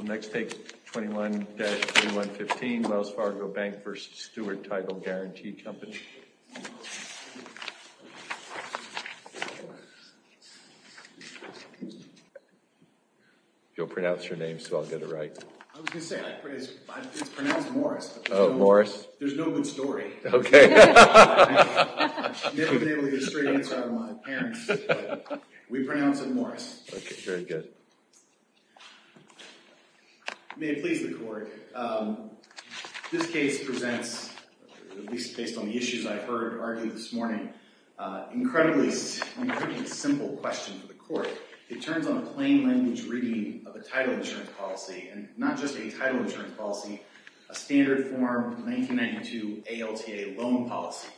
Next take 21-315 Wells Fargo Bank v. Stewart Title Guaranty Company May it please the court, this case presents, at least based on the issues I've heard argued this morning, an incredibly simple question for the court. It turns on a plain language reading of a title insurance policy, and not just a title insurance policy, a standard form 1992 ALTA loan policy.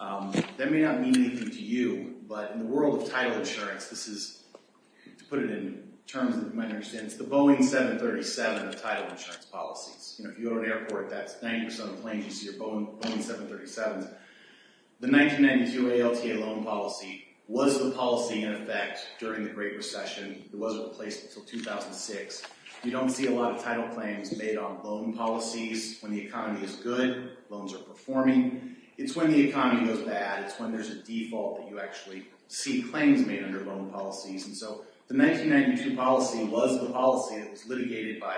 That may not mean anything to you, but in the world of title insurance, to put it in terms that you might understand, it's the Boeing 737 of title insurance policies. If you go to an airport, that's 90% of the planes you see are Boeing 737s. The 1992 ALTA loan policy was the policy in effect during the Great Recession. It wasn't replaced until 2006. You don't see a lot of title claims made on loan policies. When the economy is good, loans are performing. It's when the economy goes bad, it's when there's a default that you actually see claims made under loan policies. The 1992 policy was the policy that was litigated by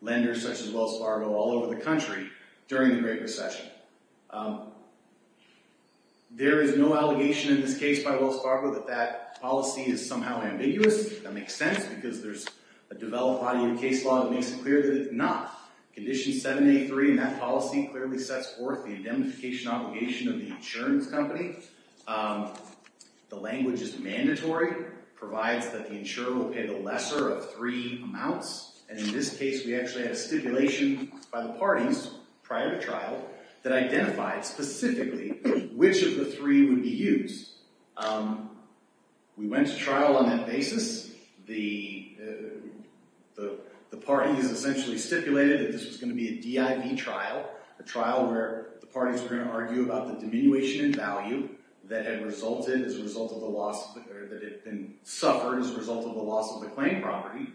lenders such as Wells Fargo all over the country during the Great Recession. There is no allegation in this case by Wells Fargo that that policy is somehow ambiguous. That makes sense because there's a developed body of case law that makes it clear that it's not. Condition 783 in that policy clearly sets forth the indemnification obligation of the insurance company. The language is mandatory, provides that the insurer will pay the lesser of three amounts. In this case, we actually had a stipulation by the parties prior to trial that identified specifically which of the three would be used. We went to trial on that basis. The parties essentially stipulated that this was going to be a DIV trial, a trial where the parties were going to argue about the diminution in value that had been suffered as a result of the loss of the claim property.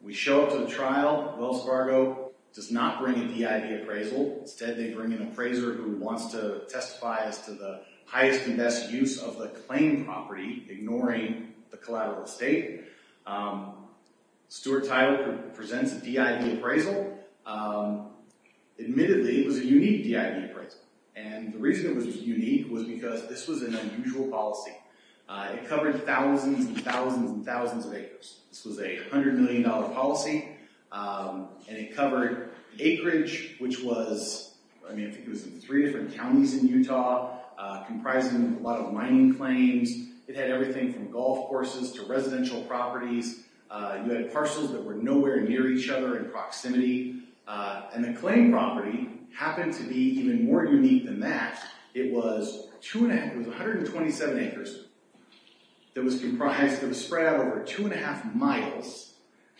We show up to the trial. Wells Fargo does not bring a DIV appraisal. Instead, they bring an appraiser who wants to testify as to the highest and best use of the claim property, ignoring the collateral estate. Stuart Tyler presents a DIV appraisal. Admittedly, it was a unique DIV appraisal. The reason it was unique was because this was an unusual policy. It covered thousands and thousands and thousands of acres. This was a $100 million policy, and it covered acreage, which was in three different counties in Utah, comprising a lot of mining claims. It had everything from golf courses to residential properties. You had parcels that were nowhere near each other in proximity, and the claim property happened to be even more unique than that. It was 127 acres. It was spread out over two and a half miles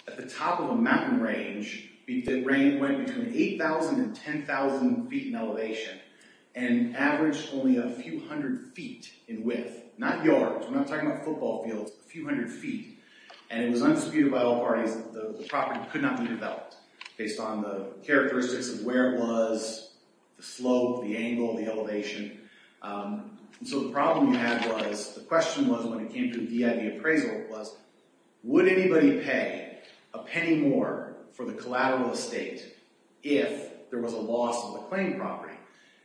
at the top of a mountain range. The rain went between 8,000 and 10,000 feet in elevation and averaged only a few hundred feet in width, not yards. We're not talking about football fields, a few hundred feet. It was undisputed by all parties that the property could not be developed based on the characteristics of where it was, the slope, the angle, the elevation. The problem you had was, the question was when it came to the DIV appraisal was, would anybody pay a penny more for the collateral estate if there was a loss of the claim property?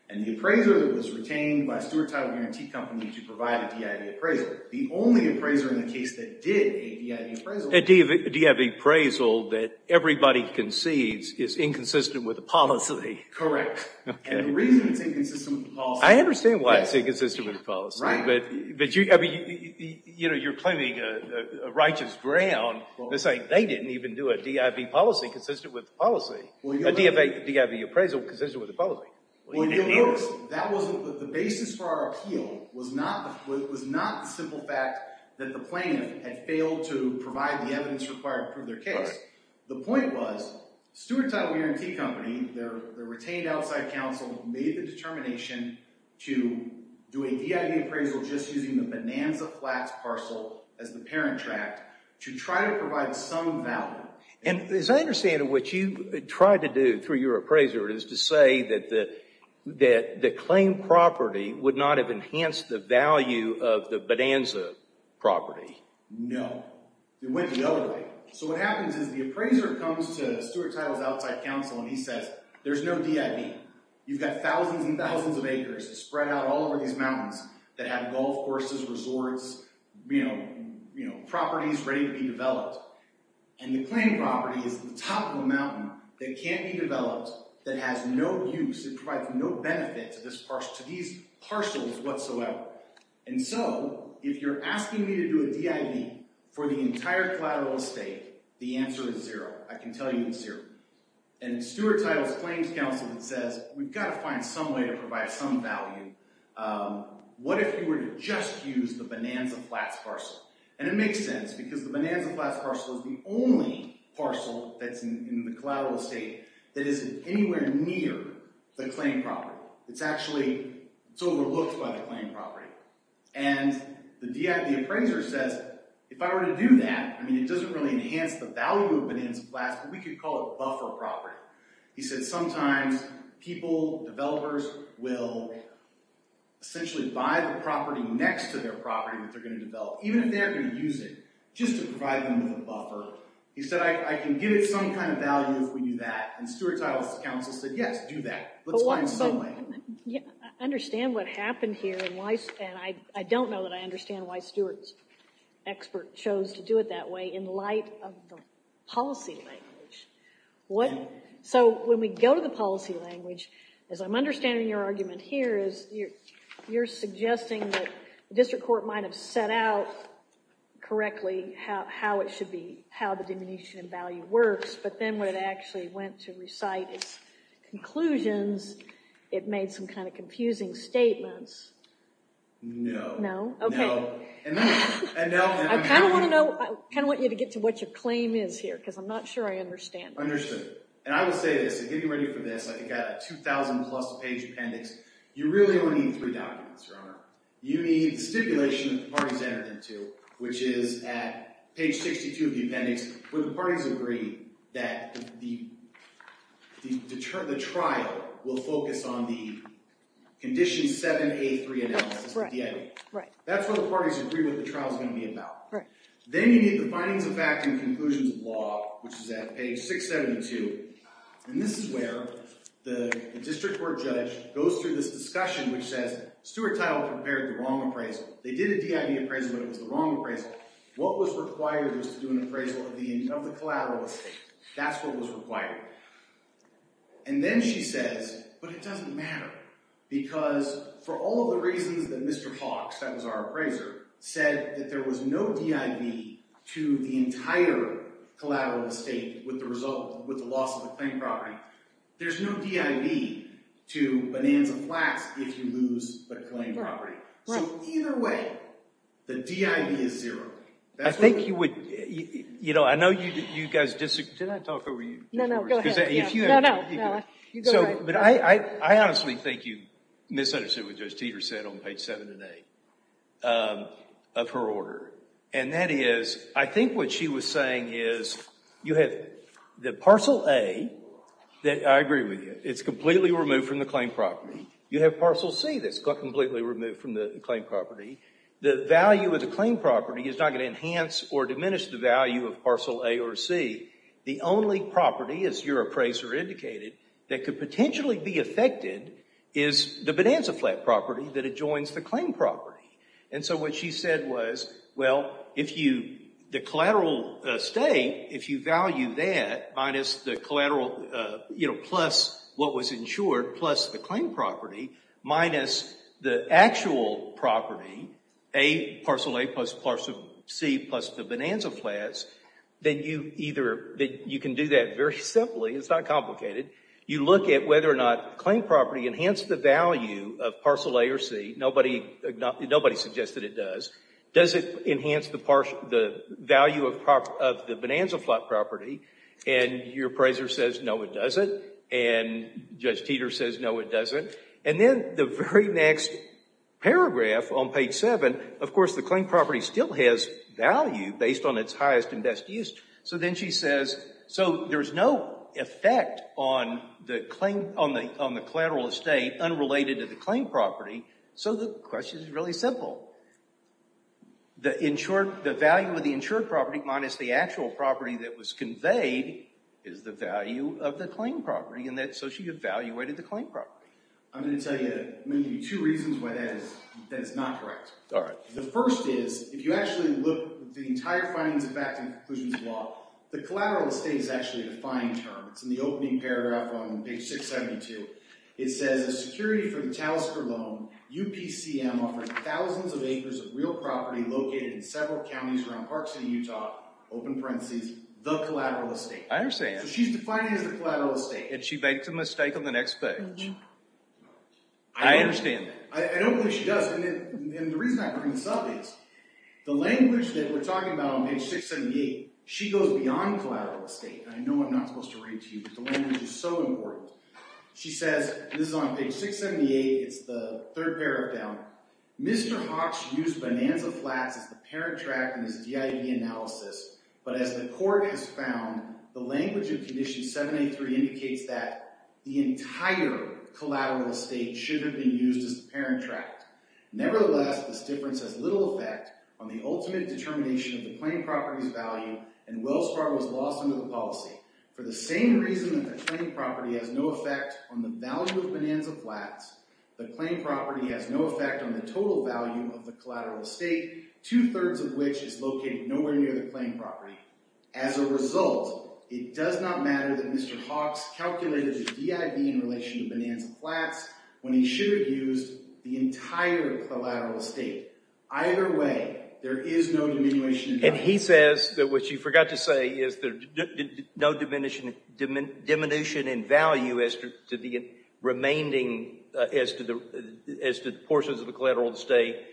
And the appraiser was retained by a steward title guarantee company to provide a DIV appraisal. The only appraiser in the case that did a DIV appraisal— A DIV appraisal that everybody concedes is inconsistent with the policy. Correct. Okay. And the reason it's inconsistent with the policy— I understand why it's inconsistent with the policy. Right. But you're claiming a righteous ground by saying they didn't even do a DIV policy consistent with the policy. A DIV appraisal consistent with the policy. Well, you'll notice that the basis for our appeal was not the simple fact that the plaintiff had failed to provide the evidence required to prove their case. Right. The point was, the steward title guarantee company, their retained outside counsel, made the determination to do a DIV appraisal just using the Bonanza Flats parcel as the parent tract to try to provide some value. And as I understand it, what you tried to do through your appraiser is to say that the claimed property would not have enhanced the value of the Bonanza property. No. It went the other way. So what happens is the appraiser comes to the steward title's outside counsel and he says, there's no DIV. You've got thousands and thousands of acres spread out all over these mountains that have golf courses, resorts, you know, properties ready to be developed. And the claimed property is at the top of the mountain that can't be developed, that has no use, that provides no benefit to these parcels whatsoever. And so, if you're asking me to do a DIV for the entire collateral estate, the answer is zero. I can tell you it's zero. And the steward title's claims counsel says, we've got to find some way to provide some value. What if you were to just use the Bonanza Flats parcel? And it makes sense because the Bonanza Flats parcel is the only parcel that's in the collateral estate that isn't anywhere near the claimed property. It's actually, it's overlooked by the claimed property. And the DIV appraiser says, if I were to do that, I mean, it doesn't really enhance the value of Bonanza Flats, but we could call it buffer property. He said, sometimes people, developers, will essentially buy the property next to their property that they're going to develop, even if they're going to use it, just to provide them with a buffer. He said, I can give it some kind of value if we do that. And steward title's counsel said, yes, do that. Let's find some way. I understand what happened here. And I don't know that I understand why Stewart's expert chose to do it that way in light of the policy language. So when we go to the policy language, as I'm understanding your argument here, you're suggesting that the district court might have set out correctly how it should be, how the diminution in value works. But then when it actually went to recite its conclusions, it made some kind of confusing statements. No. No? No. OK. I kind of want you to get to what your claim is here, because I'm not sure I understand it. Understood. And I will say this, to get you ready for this, I've got a 2,000-plus page appendix. You really only need three documents, Your Honor. You need the stipulation that the parties entered into, which is at page 62 of the appendix, where the parties agree that the trial will focus on the condition 7A3 analysis, the DIA. Right. That's where the parties agree what the trial's going to be about. Right. Then you need the findings of fact and conclusions of law, which is at page 672. And this is where the district court judge goes through this discussion, which says Stewart Tyler prepared the wrong appraisal. They did a DIV appraisal, but it was the wrong appraisal. What was required was to do an appraisal of the collateral estate. That's what was required. And then she says, but it doesn't matter. Because for all of the reasons that Mr. Hawks, that was our appraiser, said that there was no DIV to the entire collateral estate with the loss of the claim property, there's no DIV to Bonanza Flats if you lose the claim property. Right. So either way, the DIV is zero. I think you would, you know, I know you guys disagree. Did I talk over you? No, no. Go ahead. No, no. You go ahead. But I honestly think you misunderstood what Judge Teeter said on page 7 and 8 of her order. And that is, I think what she was saying is you have the parcel A, I agree with you, it's completely removed from the claim property. You have parcel C that's completely removed from the claim property. The value of the claim property is not going to enhance or diminish the value of parcel A or C. The only property, as your appraiser indicated, that could potentially be affected is the Bonanza Flat property that adjoins the claim property. And so what she said was, well, if you, the collateral estate, if you value that minus the collateral, you know, plus what was insured, plus the claim property, minus the actual property, A, parcel A plus parcel C plus the Bonanza Flats, then you either, you can do that very simply. It's not complicated. You look at whether or not the claim property enhanced the value of parcel A or C. Nobody suggested it does. Does it enhance the value of the Bonanza Flat property? And your appraiser says, no, it doesn't. And Judge Teeter says, no, it doesn't. And then the very next paragraph on page 7, of course, the claim property still has value based on its highest and best use. So then she says, so there's no effect on the claim, on the collateral estate unrelated to the claim property. So the question is really simple. The insured, the value of the insured property minus the actual property that was conveyed is the value of the claim property. And so she evaluated the claim property. I'm going to tell you, I'm going to give you two reasons why that is not correct. All right. The first is, if you actually look at the entire findings of fact and conclusions of law, the collateral estate is actually a defined term. It's in the opening paragraph on page 672. It says, a security for the Talisker loan, UPCM offers thousands of acres of real property located in several counties around Park City, Utah, open parentheses, the collateral estate. I understand. So she's defining it as the collateral estate. And she makes a mistake on the next page. I understand that. I don't believe she does. And the reason I bring this up is, the language that we're talking about on page 678, she goes beyond collateral estate. And I know I'm not supposed to read to you, but the language is so important. She says, this is on page 678. It's the third paragraph down. Mr. Hawks used Bonanza Flats as the parent tract in his DIV analysis. But as the court has found, the language of condition 783 indicates that the entire collateral estate should have been used as the parent tract. Nevertheless, this difference has little effect on the ultimate determination of the claimed property's value, and Wells Fargo was lost under the policy. For the same reason that the claimed property has no effect on the value of Bonanza Flats, the claimed property has no effect on the total value of the collateral estate, two-thirds of which is located nowhere near the claimed property. As a result, it does not matter that Mr. Hawks calculated his DIV in relation to Bonanza Flats when he should have used the entire collateral estate. Either way, there is no diminution. And he says that what you forgot to say is there's no diminution in value as to the portions of the collateral estate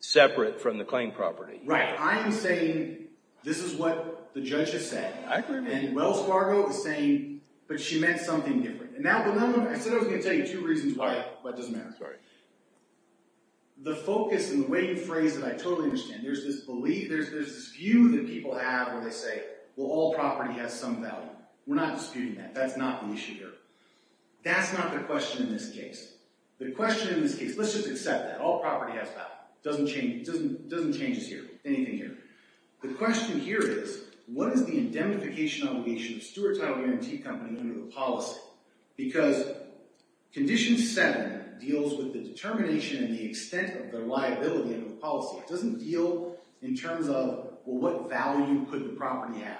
separate from the claimed property. Right. I am saying this is what the judge has said. I agree with you. And Wells Fargo is saying, but she meant something different. And I said I was going to tell you two reasons why it doesn't matter. Sorry. The focus and the way you phrase it, I totally understand. There's this view that people have where they say, well, all property has some value. We're not disputing that. That's not the issue here. That's not the question in this case. The question in this case, let's just accept that. All property has value. It doesn't change us here, anything here. The question here is, what is the indemnification obligation of a steward title guarantee company under the policy? Because Condition 7 deals with the determination and the extent of their liability under the policy. It doesn't deal in terms of, well, what value could the property have?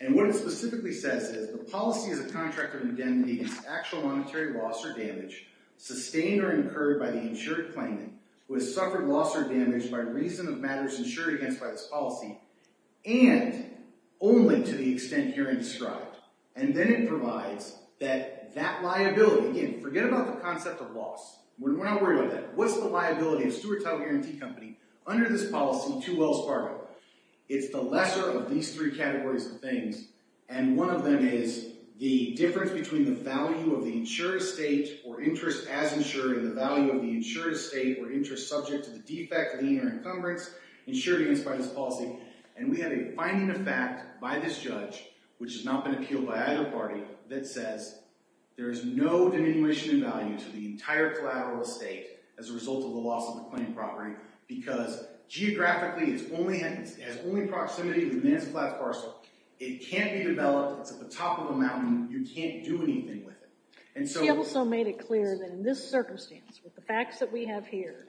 And what it specifically says is the policy is a contract of indemnity against actual monetary loss or damage sustained or incurred by the insured claimant who has suffered loss or damage by reason of matters insured against by this policy. And only to the extent here in described. And then it provides that liability. Again, forget about the concept of loss. We're not worried about that. What's the liability of a steward title guarantee company under this policy to Wells Fargo? It's the lesser of these three categories of things. And one of them is the difference between the value of the insured estate or interest as insured and the value of the insured estate or interest subject to the defect, lien, or encumbrance insured against by this policy. And we have a finding of fact by this judge, which has not been appealed by either party, that says there is no diminution in value to the entire collateral estate as a result of the loss of the claimed property. Because geographically, it has only proximity to the Manson Plattes parcel. It can't be developed. It's at the top of a mountain. You can't do anything with it. She also made it clear that in this circumstance, with the facts that we have here,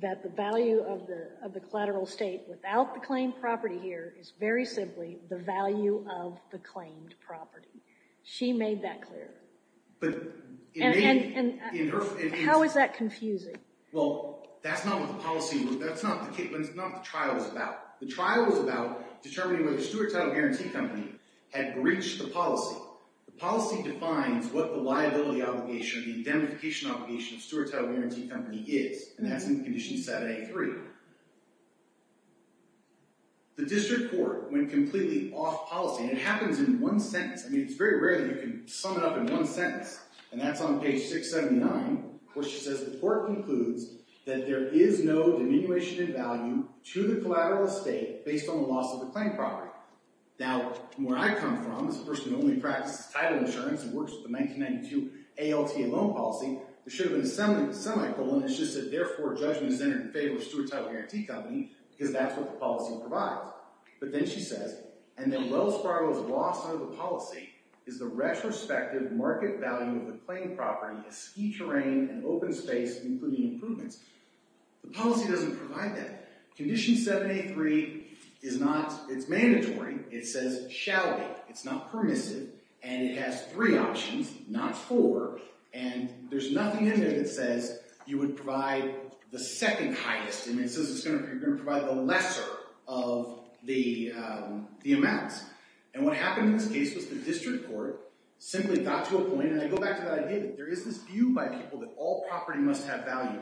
that the value of the collateral estate without the claimed property here is very simply the value of the claimed property. She made that clear. And how is that confusing? Well, that's not what the policy was. That's not what the trial was about. The trial was about determining whether the steward title guarantee company had breached the policy. The policy defines what the liability obligation, the identification obligation of the steward title guarantee company is. And that's in condition set A3. The district court went completely off policy. And it happens in one sentence. I mean, it's very rare that you can sum it up in one sentence. And that's on page 679. Where she says the court concludes that there is no diminution in value to the collateral estate based on the loss of the claimed property. Now, where I come from, as a person who only practices title insurance and works with the 1992 ALTA loan policy, there should have been a semicolon. It's just that, therefore, judgment is entered in favor of the steward title guarantee company because that's what the policy provides. But then she says, and then Wells Fargo's loss out of the policy is the retrospective market value of the claimed property, the ski terrain, and open space, including improvements. The policy doesn't provide that. Condition 783 is not. It's mandatory. It says, shall be. It's not permissive. And it has three options, not four. And there's nothing in there that says you would provide the second highest. And it says you're going to provide the lesser of the amounts. And what happened in this case was the district court simply got to a point, and I go back to that idea that there is this view by people that all property must have value.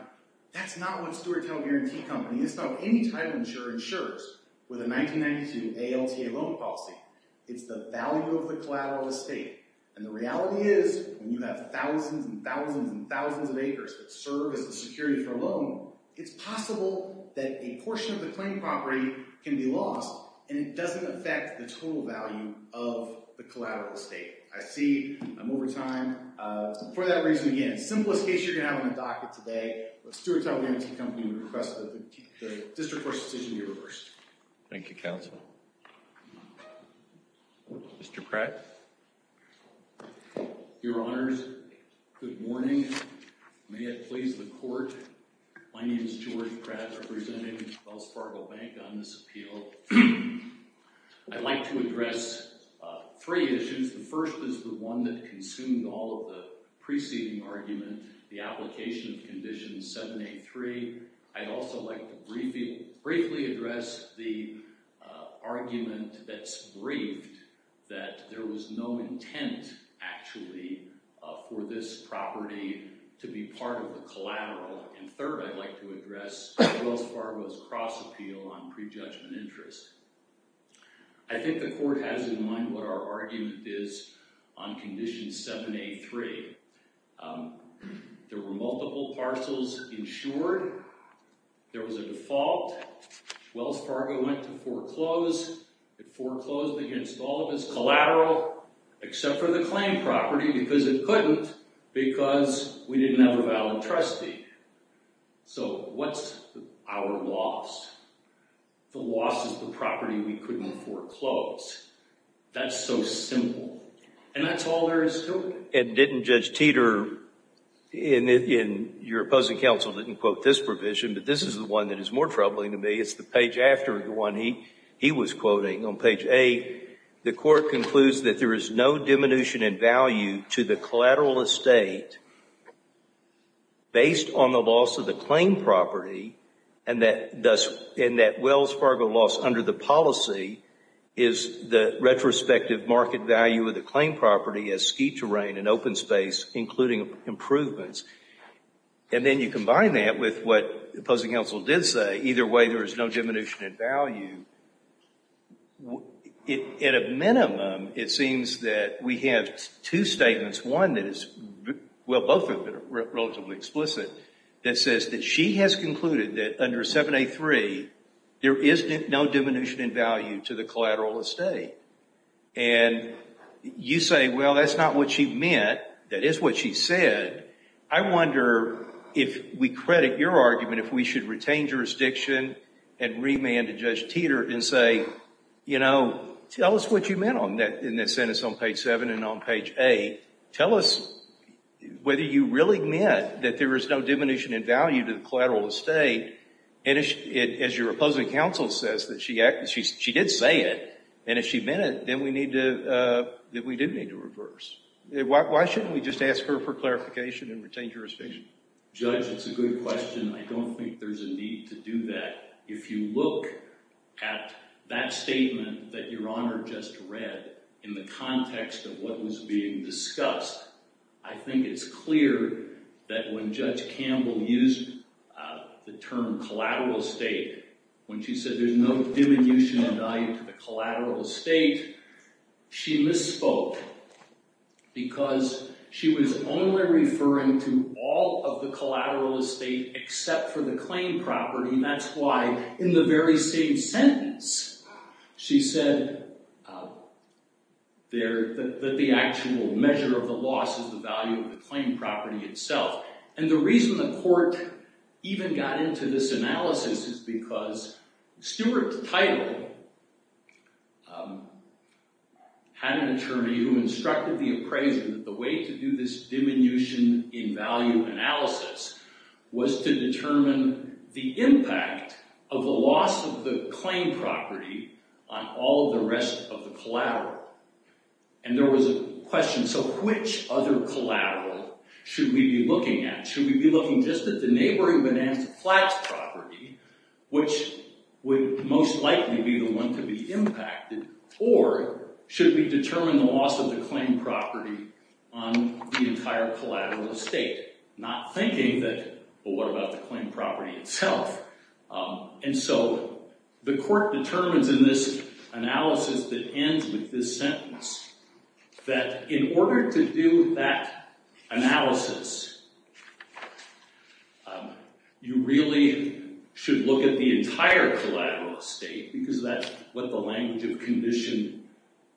That's not what a steward title guarantee company is. It's not what any title insurer insures with a 1992 ALTA loan policy. It's the value of the collateral estate. And the reality is when you have thousands and thousands and thousands of acres that serve as the security for a loan, it's possible that a portion of the claimed property can be lost, and it doesn't affect the total value of the collateral estate. I see I'm over time. For that reason, again, simplest case you're going to have on the docket today, a steward title guarantee company would request that the district court's decision be reversed. Thank you, counsel. Mr. Pratt. Your Honors, good morning. May it please the court, my name is George Pratt, representing Wells Fargo Bank on this appeal. I'd like to address three issues. The first is the one that consumed all of the preceding argument, the application of Condition 783. I'd also like to briefly address the argument that's briefed that there was no intent, actually, for this property to be part of the collateral. And third, I'd like to address Wells Fargo's cross-appeal on prejudgment interest. I think the court has in mind what our argument is on Condition 783. There were multiple parcels insured. There was a default. Wells Fargo went to foreclose. It foreclosed against all of its collateral, except for the claimed property, because it couldn't, because we didn't have a valid trustee. So what's our loss? The loss is the property we couldn't foreclose. That's so simple. And that's all there is to it. And didn't Judge Teeter, in your opposing counsel, didn't quote this provision, but this is the one that is more troubling to me. It's the page after the one he was quoting. On page 8, the court concludes that there is no diminution in value to the collateral estate based on the loss of the claimed property, and that Wells Fargo loss under the policy is the retrospective market value of the claimed property as ski terrain and open space, including improvements. And then you combine that with what opposing counsel did say, either way there is no diminution in value. At a minimum, it seems that we have two statements. Well, both of them are relatively explicit. It says that she has concluded that under 7A3, there is no diminution in value to the collateral estate. And you say, well, that's not what she meant. That is what she said. I wonder if we credit your argument, if we should retain jurisdiction and remand to Judge Teeter and say, you know, tell us what you meant in that sentence on page 7 and on page 8. Tell us whether you really meant that there is no diminution in value to the collateral estate. And as your opposing counsel says that she did say it, and if she meant it, then we did need to reverse. Why shouldn't we just ask her for clarification and retain jurisdiction? Judge, it's a good question. I don't think there's a need to do that. If you look at that statement that Your Honor just read in the context of what was being discussed, I think it's clear that when Judge Campbell used the term collateral estate, when she said there's no diminution in value to the collateral estate, she misspoke because she was only referring to all of the collateral estate except for the claim property. And that's why in the very same sentence she said that the actual measure of the loss is the value of the claim property itself. And the reason the court even got into this analysis is because Stuart Title had an attorney who instructed the appraiser that the way to do this diminution in value analysis was to determine the impact of the loss of the claim property on all the rest of the collateral. And there was a question, so which other collateral should we be looking at? Should we be looking just at the neighboring Bonanza Flats property, which would most likely be the one to be impacted, or should we determine the loss of the claim property on the entire collateral estate? Not thinking that, but what about the claim property itself? And so the court determines in this analysis that ends with this sentence that in order to do that analysis, you really should look at the entire collateral estate because that's what the language of Condition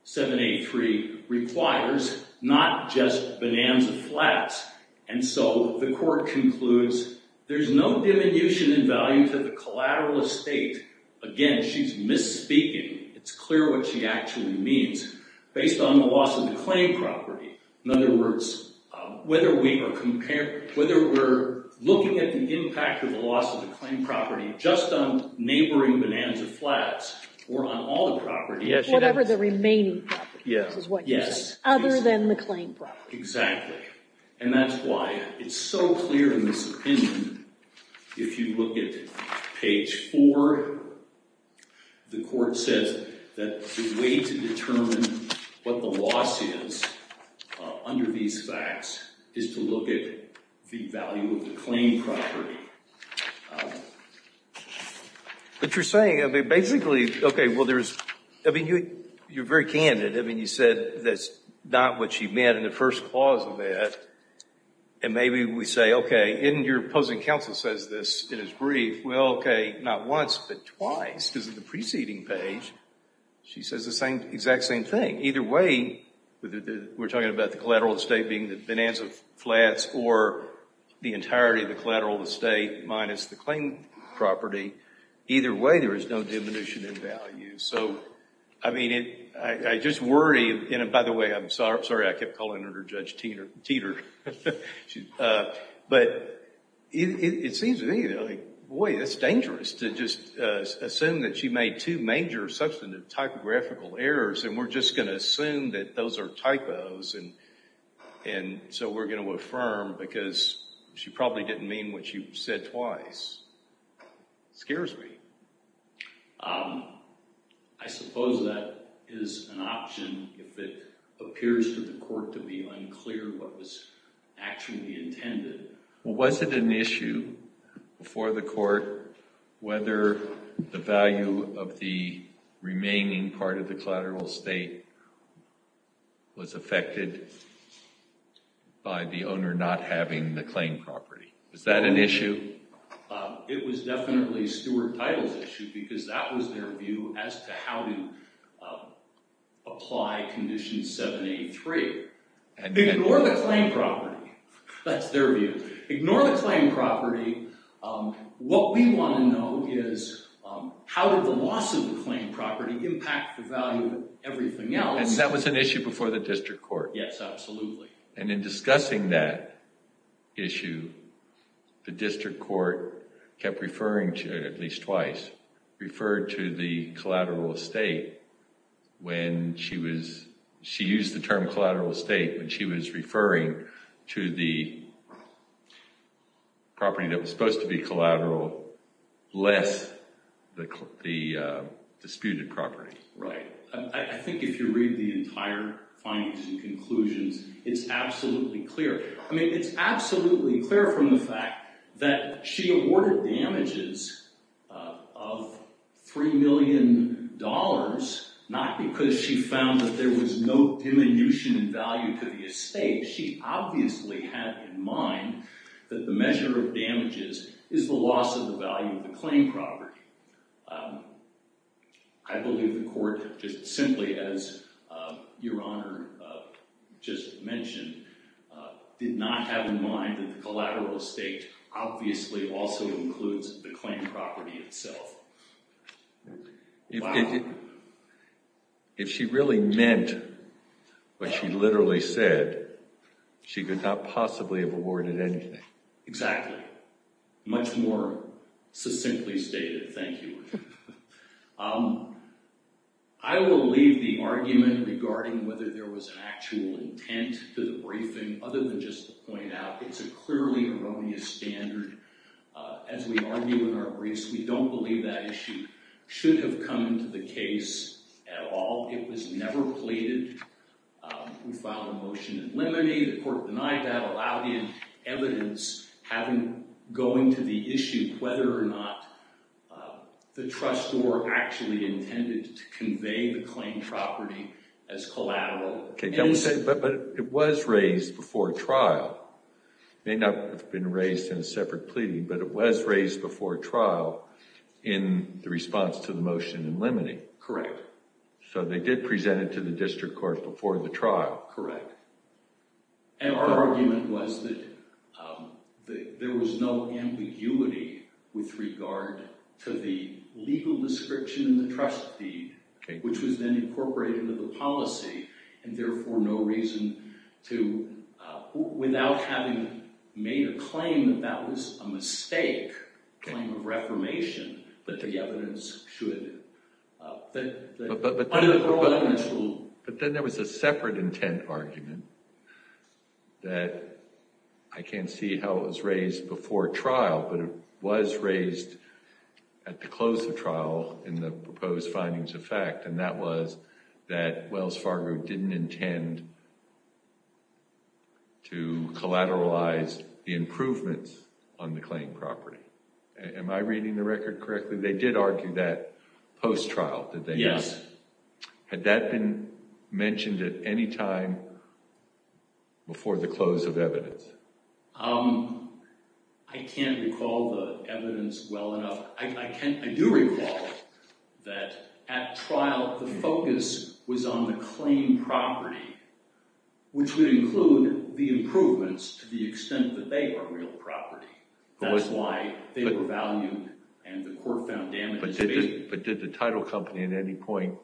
783 requires, not just Bonanza Flats. And so the court concludes there's no diminution in value to the collateral estate. Again, she's misspeaking. It's clear what she actually means based on the loss of the claim property. In other words, whether we're looking at the impact of the loss of the claim property just on neighboring Bonanza Flats or on all the property. Whatever the remaining property. Yes. Other than the claim property. Exactly. And that's why it's so clear in this opinion. If you look at page 4, the court says that the way to determine what the loss is under these facts is to look at the value of the claim property. But you're saying, basically, OK, well, there's, I mean, you're very candid. I mean, you said that's not what she meant in the first clause of that. And maybe we say, OK, and your opposing counsel says this in his brief. Well, OK, not once, but twice because of the preceding page. She says the exact same thing. Either way, we're talking about the collateral estate being the Bonanza Flats or the entirety of the collateral estate minus the claim property. Either way, there is no diminution in value. So, I mean, I just worry. And, by the way, I'm sorry I kept calling her Judge Teeter. But it seems to me, boy, it's dangerous to just assume that she made two major substantive typographical errors. And we're just going to assume that those are typos. And so we're going to affirm because she probably didn't mean what she said twice. It scares me. I suppose that is an option if it appears to the court to be unclear what was actually intended. Well, was it an issue before the court whether the value of the remaining part of the collateral estate was affected by the owner not having the claim property? Was that an issue? It was definitely Stewart Title's issue because that was their view as to how to apply Condition 783. Ignore the claim property. That's their view. Ignore the claim property. What we want to know is how did the loss of the claim property impact the value of everything else? And that was an issue before the district court. Yes, absolutely. And in discussing that issue, the district court kept referring to, at least twice, referred to the collateral estate when she was, she used the term collateral estate when she was referring to the property that was supposed to be collateral less the disputed property. Right. I think if you read the entire findings and conclusions, it's absolutely clear. I mean, it's absolutely clear from the fact that she awarded damages of $3 million not because she found that there was no diminution in value to the estate. She obviously had in mind that the measure of damages is the loss of the value of the claim property. I believe the court, just simply as Your Honor just mentioned, did not have in mind that the collateral estate obviously also includes the claim property itself. Wow. If she really meant what she literally said, she could not possibly have awarded anything. Exactly. Much more succinctly stated. Thank you. I will leave the argument regarding whether there was an actual intent to the briefing other than just to point out it's a clearly erroneous standard. As we argue in our briefs, we don't believe that issue should have come into the case at all. It was never pleaded. We filed a motion in limine. The court denied that, allowed in evidence, having going to the issue whether or not the trustor actually intended to convey the claim property as collateral. But it was raised before trial. It may not have been raised in a separate pleading, but it was raised before trial in the response to the motion in limine. Correct. So they did present it to the district court before the trial. Correct. And our argument was that there was no ambiguity with regard to the legal description in the trust deed, which was then incorporated into the policy, and therefore no reason to, without having made a claim that that was a mistake, a claim of reformation, that the evidence should underlie this rule. But then there was a separate intent argument that I can't see how it was raised before trial, but it was raised at the close of trial in the proposed findings of fact, and that was that Wells Fargo didn't intend to collateralize the improvements on the claim property. Am I reading the record correctly? They did argue that post-trial, did they not? Yes. Had that been mentioned at any time before the close of evidence? I can't recall the evidence well enough. I do recall that at trial, the focus was on the claim property, which would include the improvements to the extent that they were real property. That's why they were valued and the court found damages. But did the title company, at any point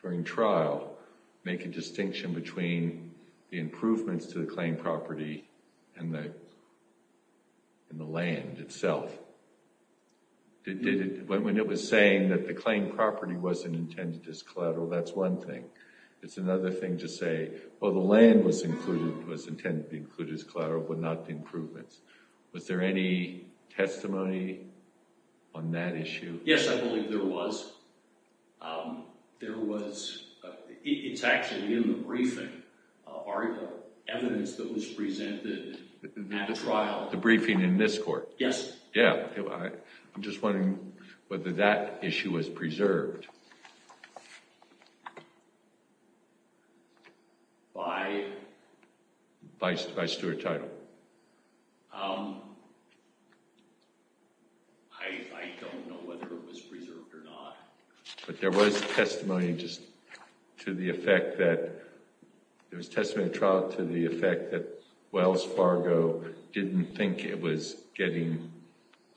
during trial, make a distinction between the improvements to the claim property and the land itself? When it was saying that the claim property wasn't intended as collateral, that's one thing. It's another thing to say, oh, the land was intended to be included as collateral, but not the improvements. Was there any testimony on that issue? Yes, I believe there was. There was. It's actually in the briefing, our evidence that was presented at the trial. The briefing in this court? Yes. Yeah. I'm just wondering whether that issue was preserved. By? By Stuart Title. I don't know whether it was preserved or not. But there was testimony just to the effect that Wells Fargo didn't think it was getting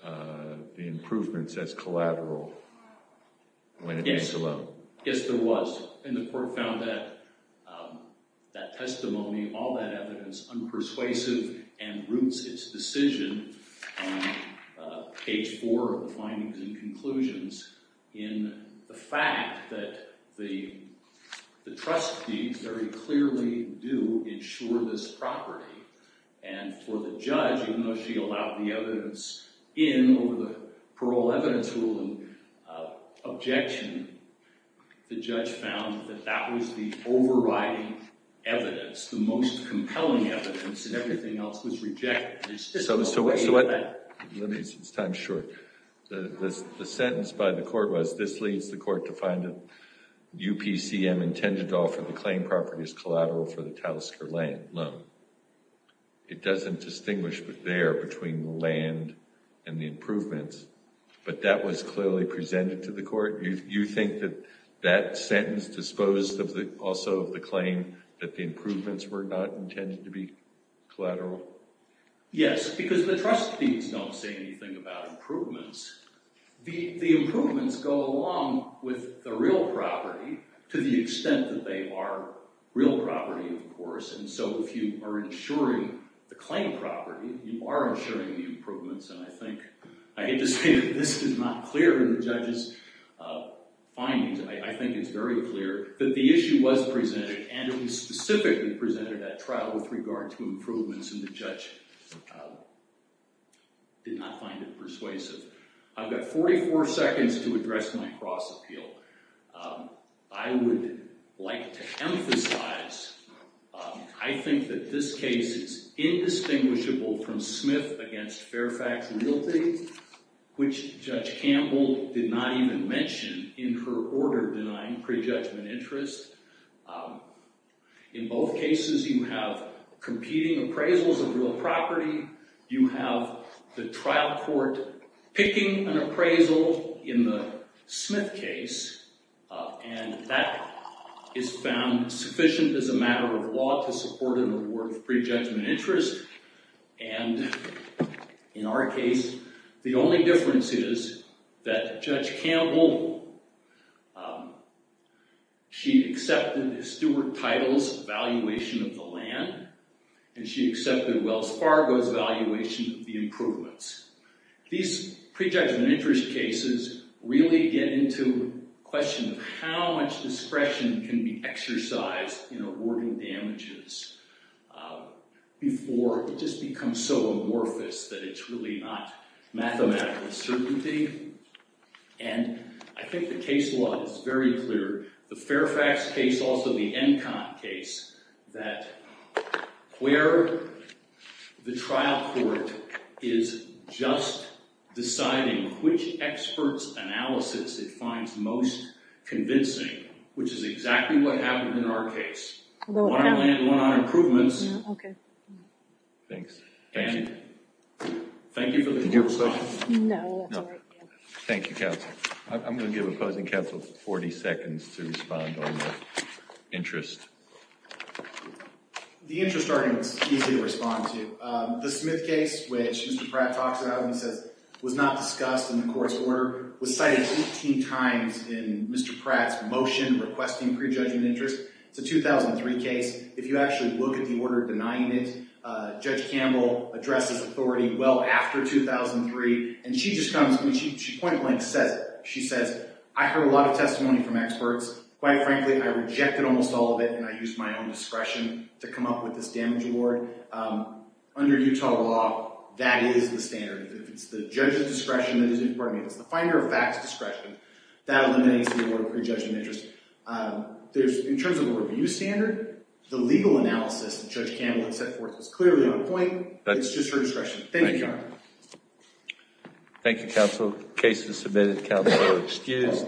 the improvements as collateral. Yes, there was. And the court found that testimony, all that evidence, unpersuasive, and roots its decision on page four of the findings and conclusions in the fact that the trustees very clearly do ensure this property. And for the judge, even though she allowed the evidence in over the parole evidence rule and objection, the judge found that that was the overriding evidence, the most compelling evidence, and everything else was rejected. So what? Let me, it's time short. The sentence by the court was, this leads the court to find that UPCM intended to offer the claim property as collateral for the Talisker loan. It doesn't distinguish there between the land and the improvements. But that was clearly presented to the court. You think that that sentence disposed also of the claim that the improvements were not intended to be collateral? Yes, because the trustees don't say anything about improvements. The improvements go along with the real property to the extent that they are real property, of course. And so if you are insuring the claim property, you are insuring the improvements. And I think I hate to say that this is not clear in the judge's findings. I think it's very clear that the issue was presented and it was specifically presented at trial with regard to improvements. And the judge did not find it persuasive. I've got 44 seconds to address my cross appeal. I would like to emphasize, I think that this case is indistinguishable from Smith against Fairfax Realty, which Judge Campbell did not even mention in her order denying prejudgment interest. In both cases, you have competing appraisals of real property. You have the trial court picking an appraisal in the Smith case. And that is found sufficient as a matter of law to support an award of prejudgment interest. And in our case, the only difference is that Judge Campbell, she accepted Stuart Title's valuation of the land. And she accepted Wells Fargo's valuation of the improvements. These prejudgment interest cases really get into the question of how much discretion can be exercised in awarding damages before it just becomes so amorphous that it's really not mathematical certainty. And I think the case law is very clear. The Fairfax case, also the Encont case, that where the trial court is just deciding which expert's analysis it finds most convincing, which is exactly what happened in our case. One on land, one on improvements. Okay. Thanks. Thank you. Thank you for the question. No, that's all right. Thank you, counsel. I'm going to give opposing counsel 40 seconds to respond on the interest. The interest argument is easy to respond to. The Smith case, which Mr. Pratt talks about and says was not discussed in the court's order, was cited 18 times in Mr. Pratt's motion requesting prejudgment interest. It's a 2003 case. If you actually look at the order denying it, Judge Campbell addresses authority well after 2003. And she just comes and she point blank says it. She says, I heard a lot of testimony from experts. Quite frankly, I rejected almost all of it, and I used my own discretion to come up with this damage award. Under Utah law, that is the standard. If it's the judge's discretion that is important, if it's the finder of facts discretion, that eliminates the award of prejudgment interest. In terms of a review standard, the legal analysis that Judge Campbell had set forth is clearly on point. It's just her discretion. Thank you. Thank you, counsel. Case is submitted. Counsel is excused.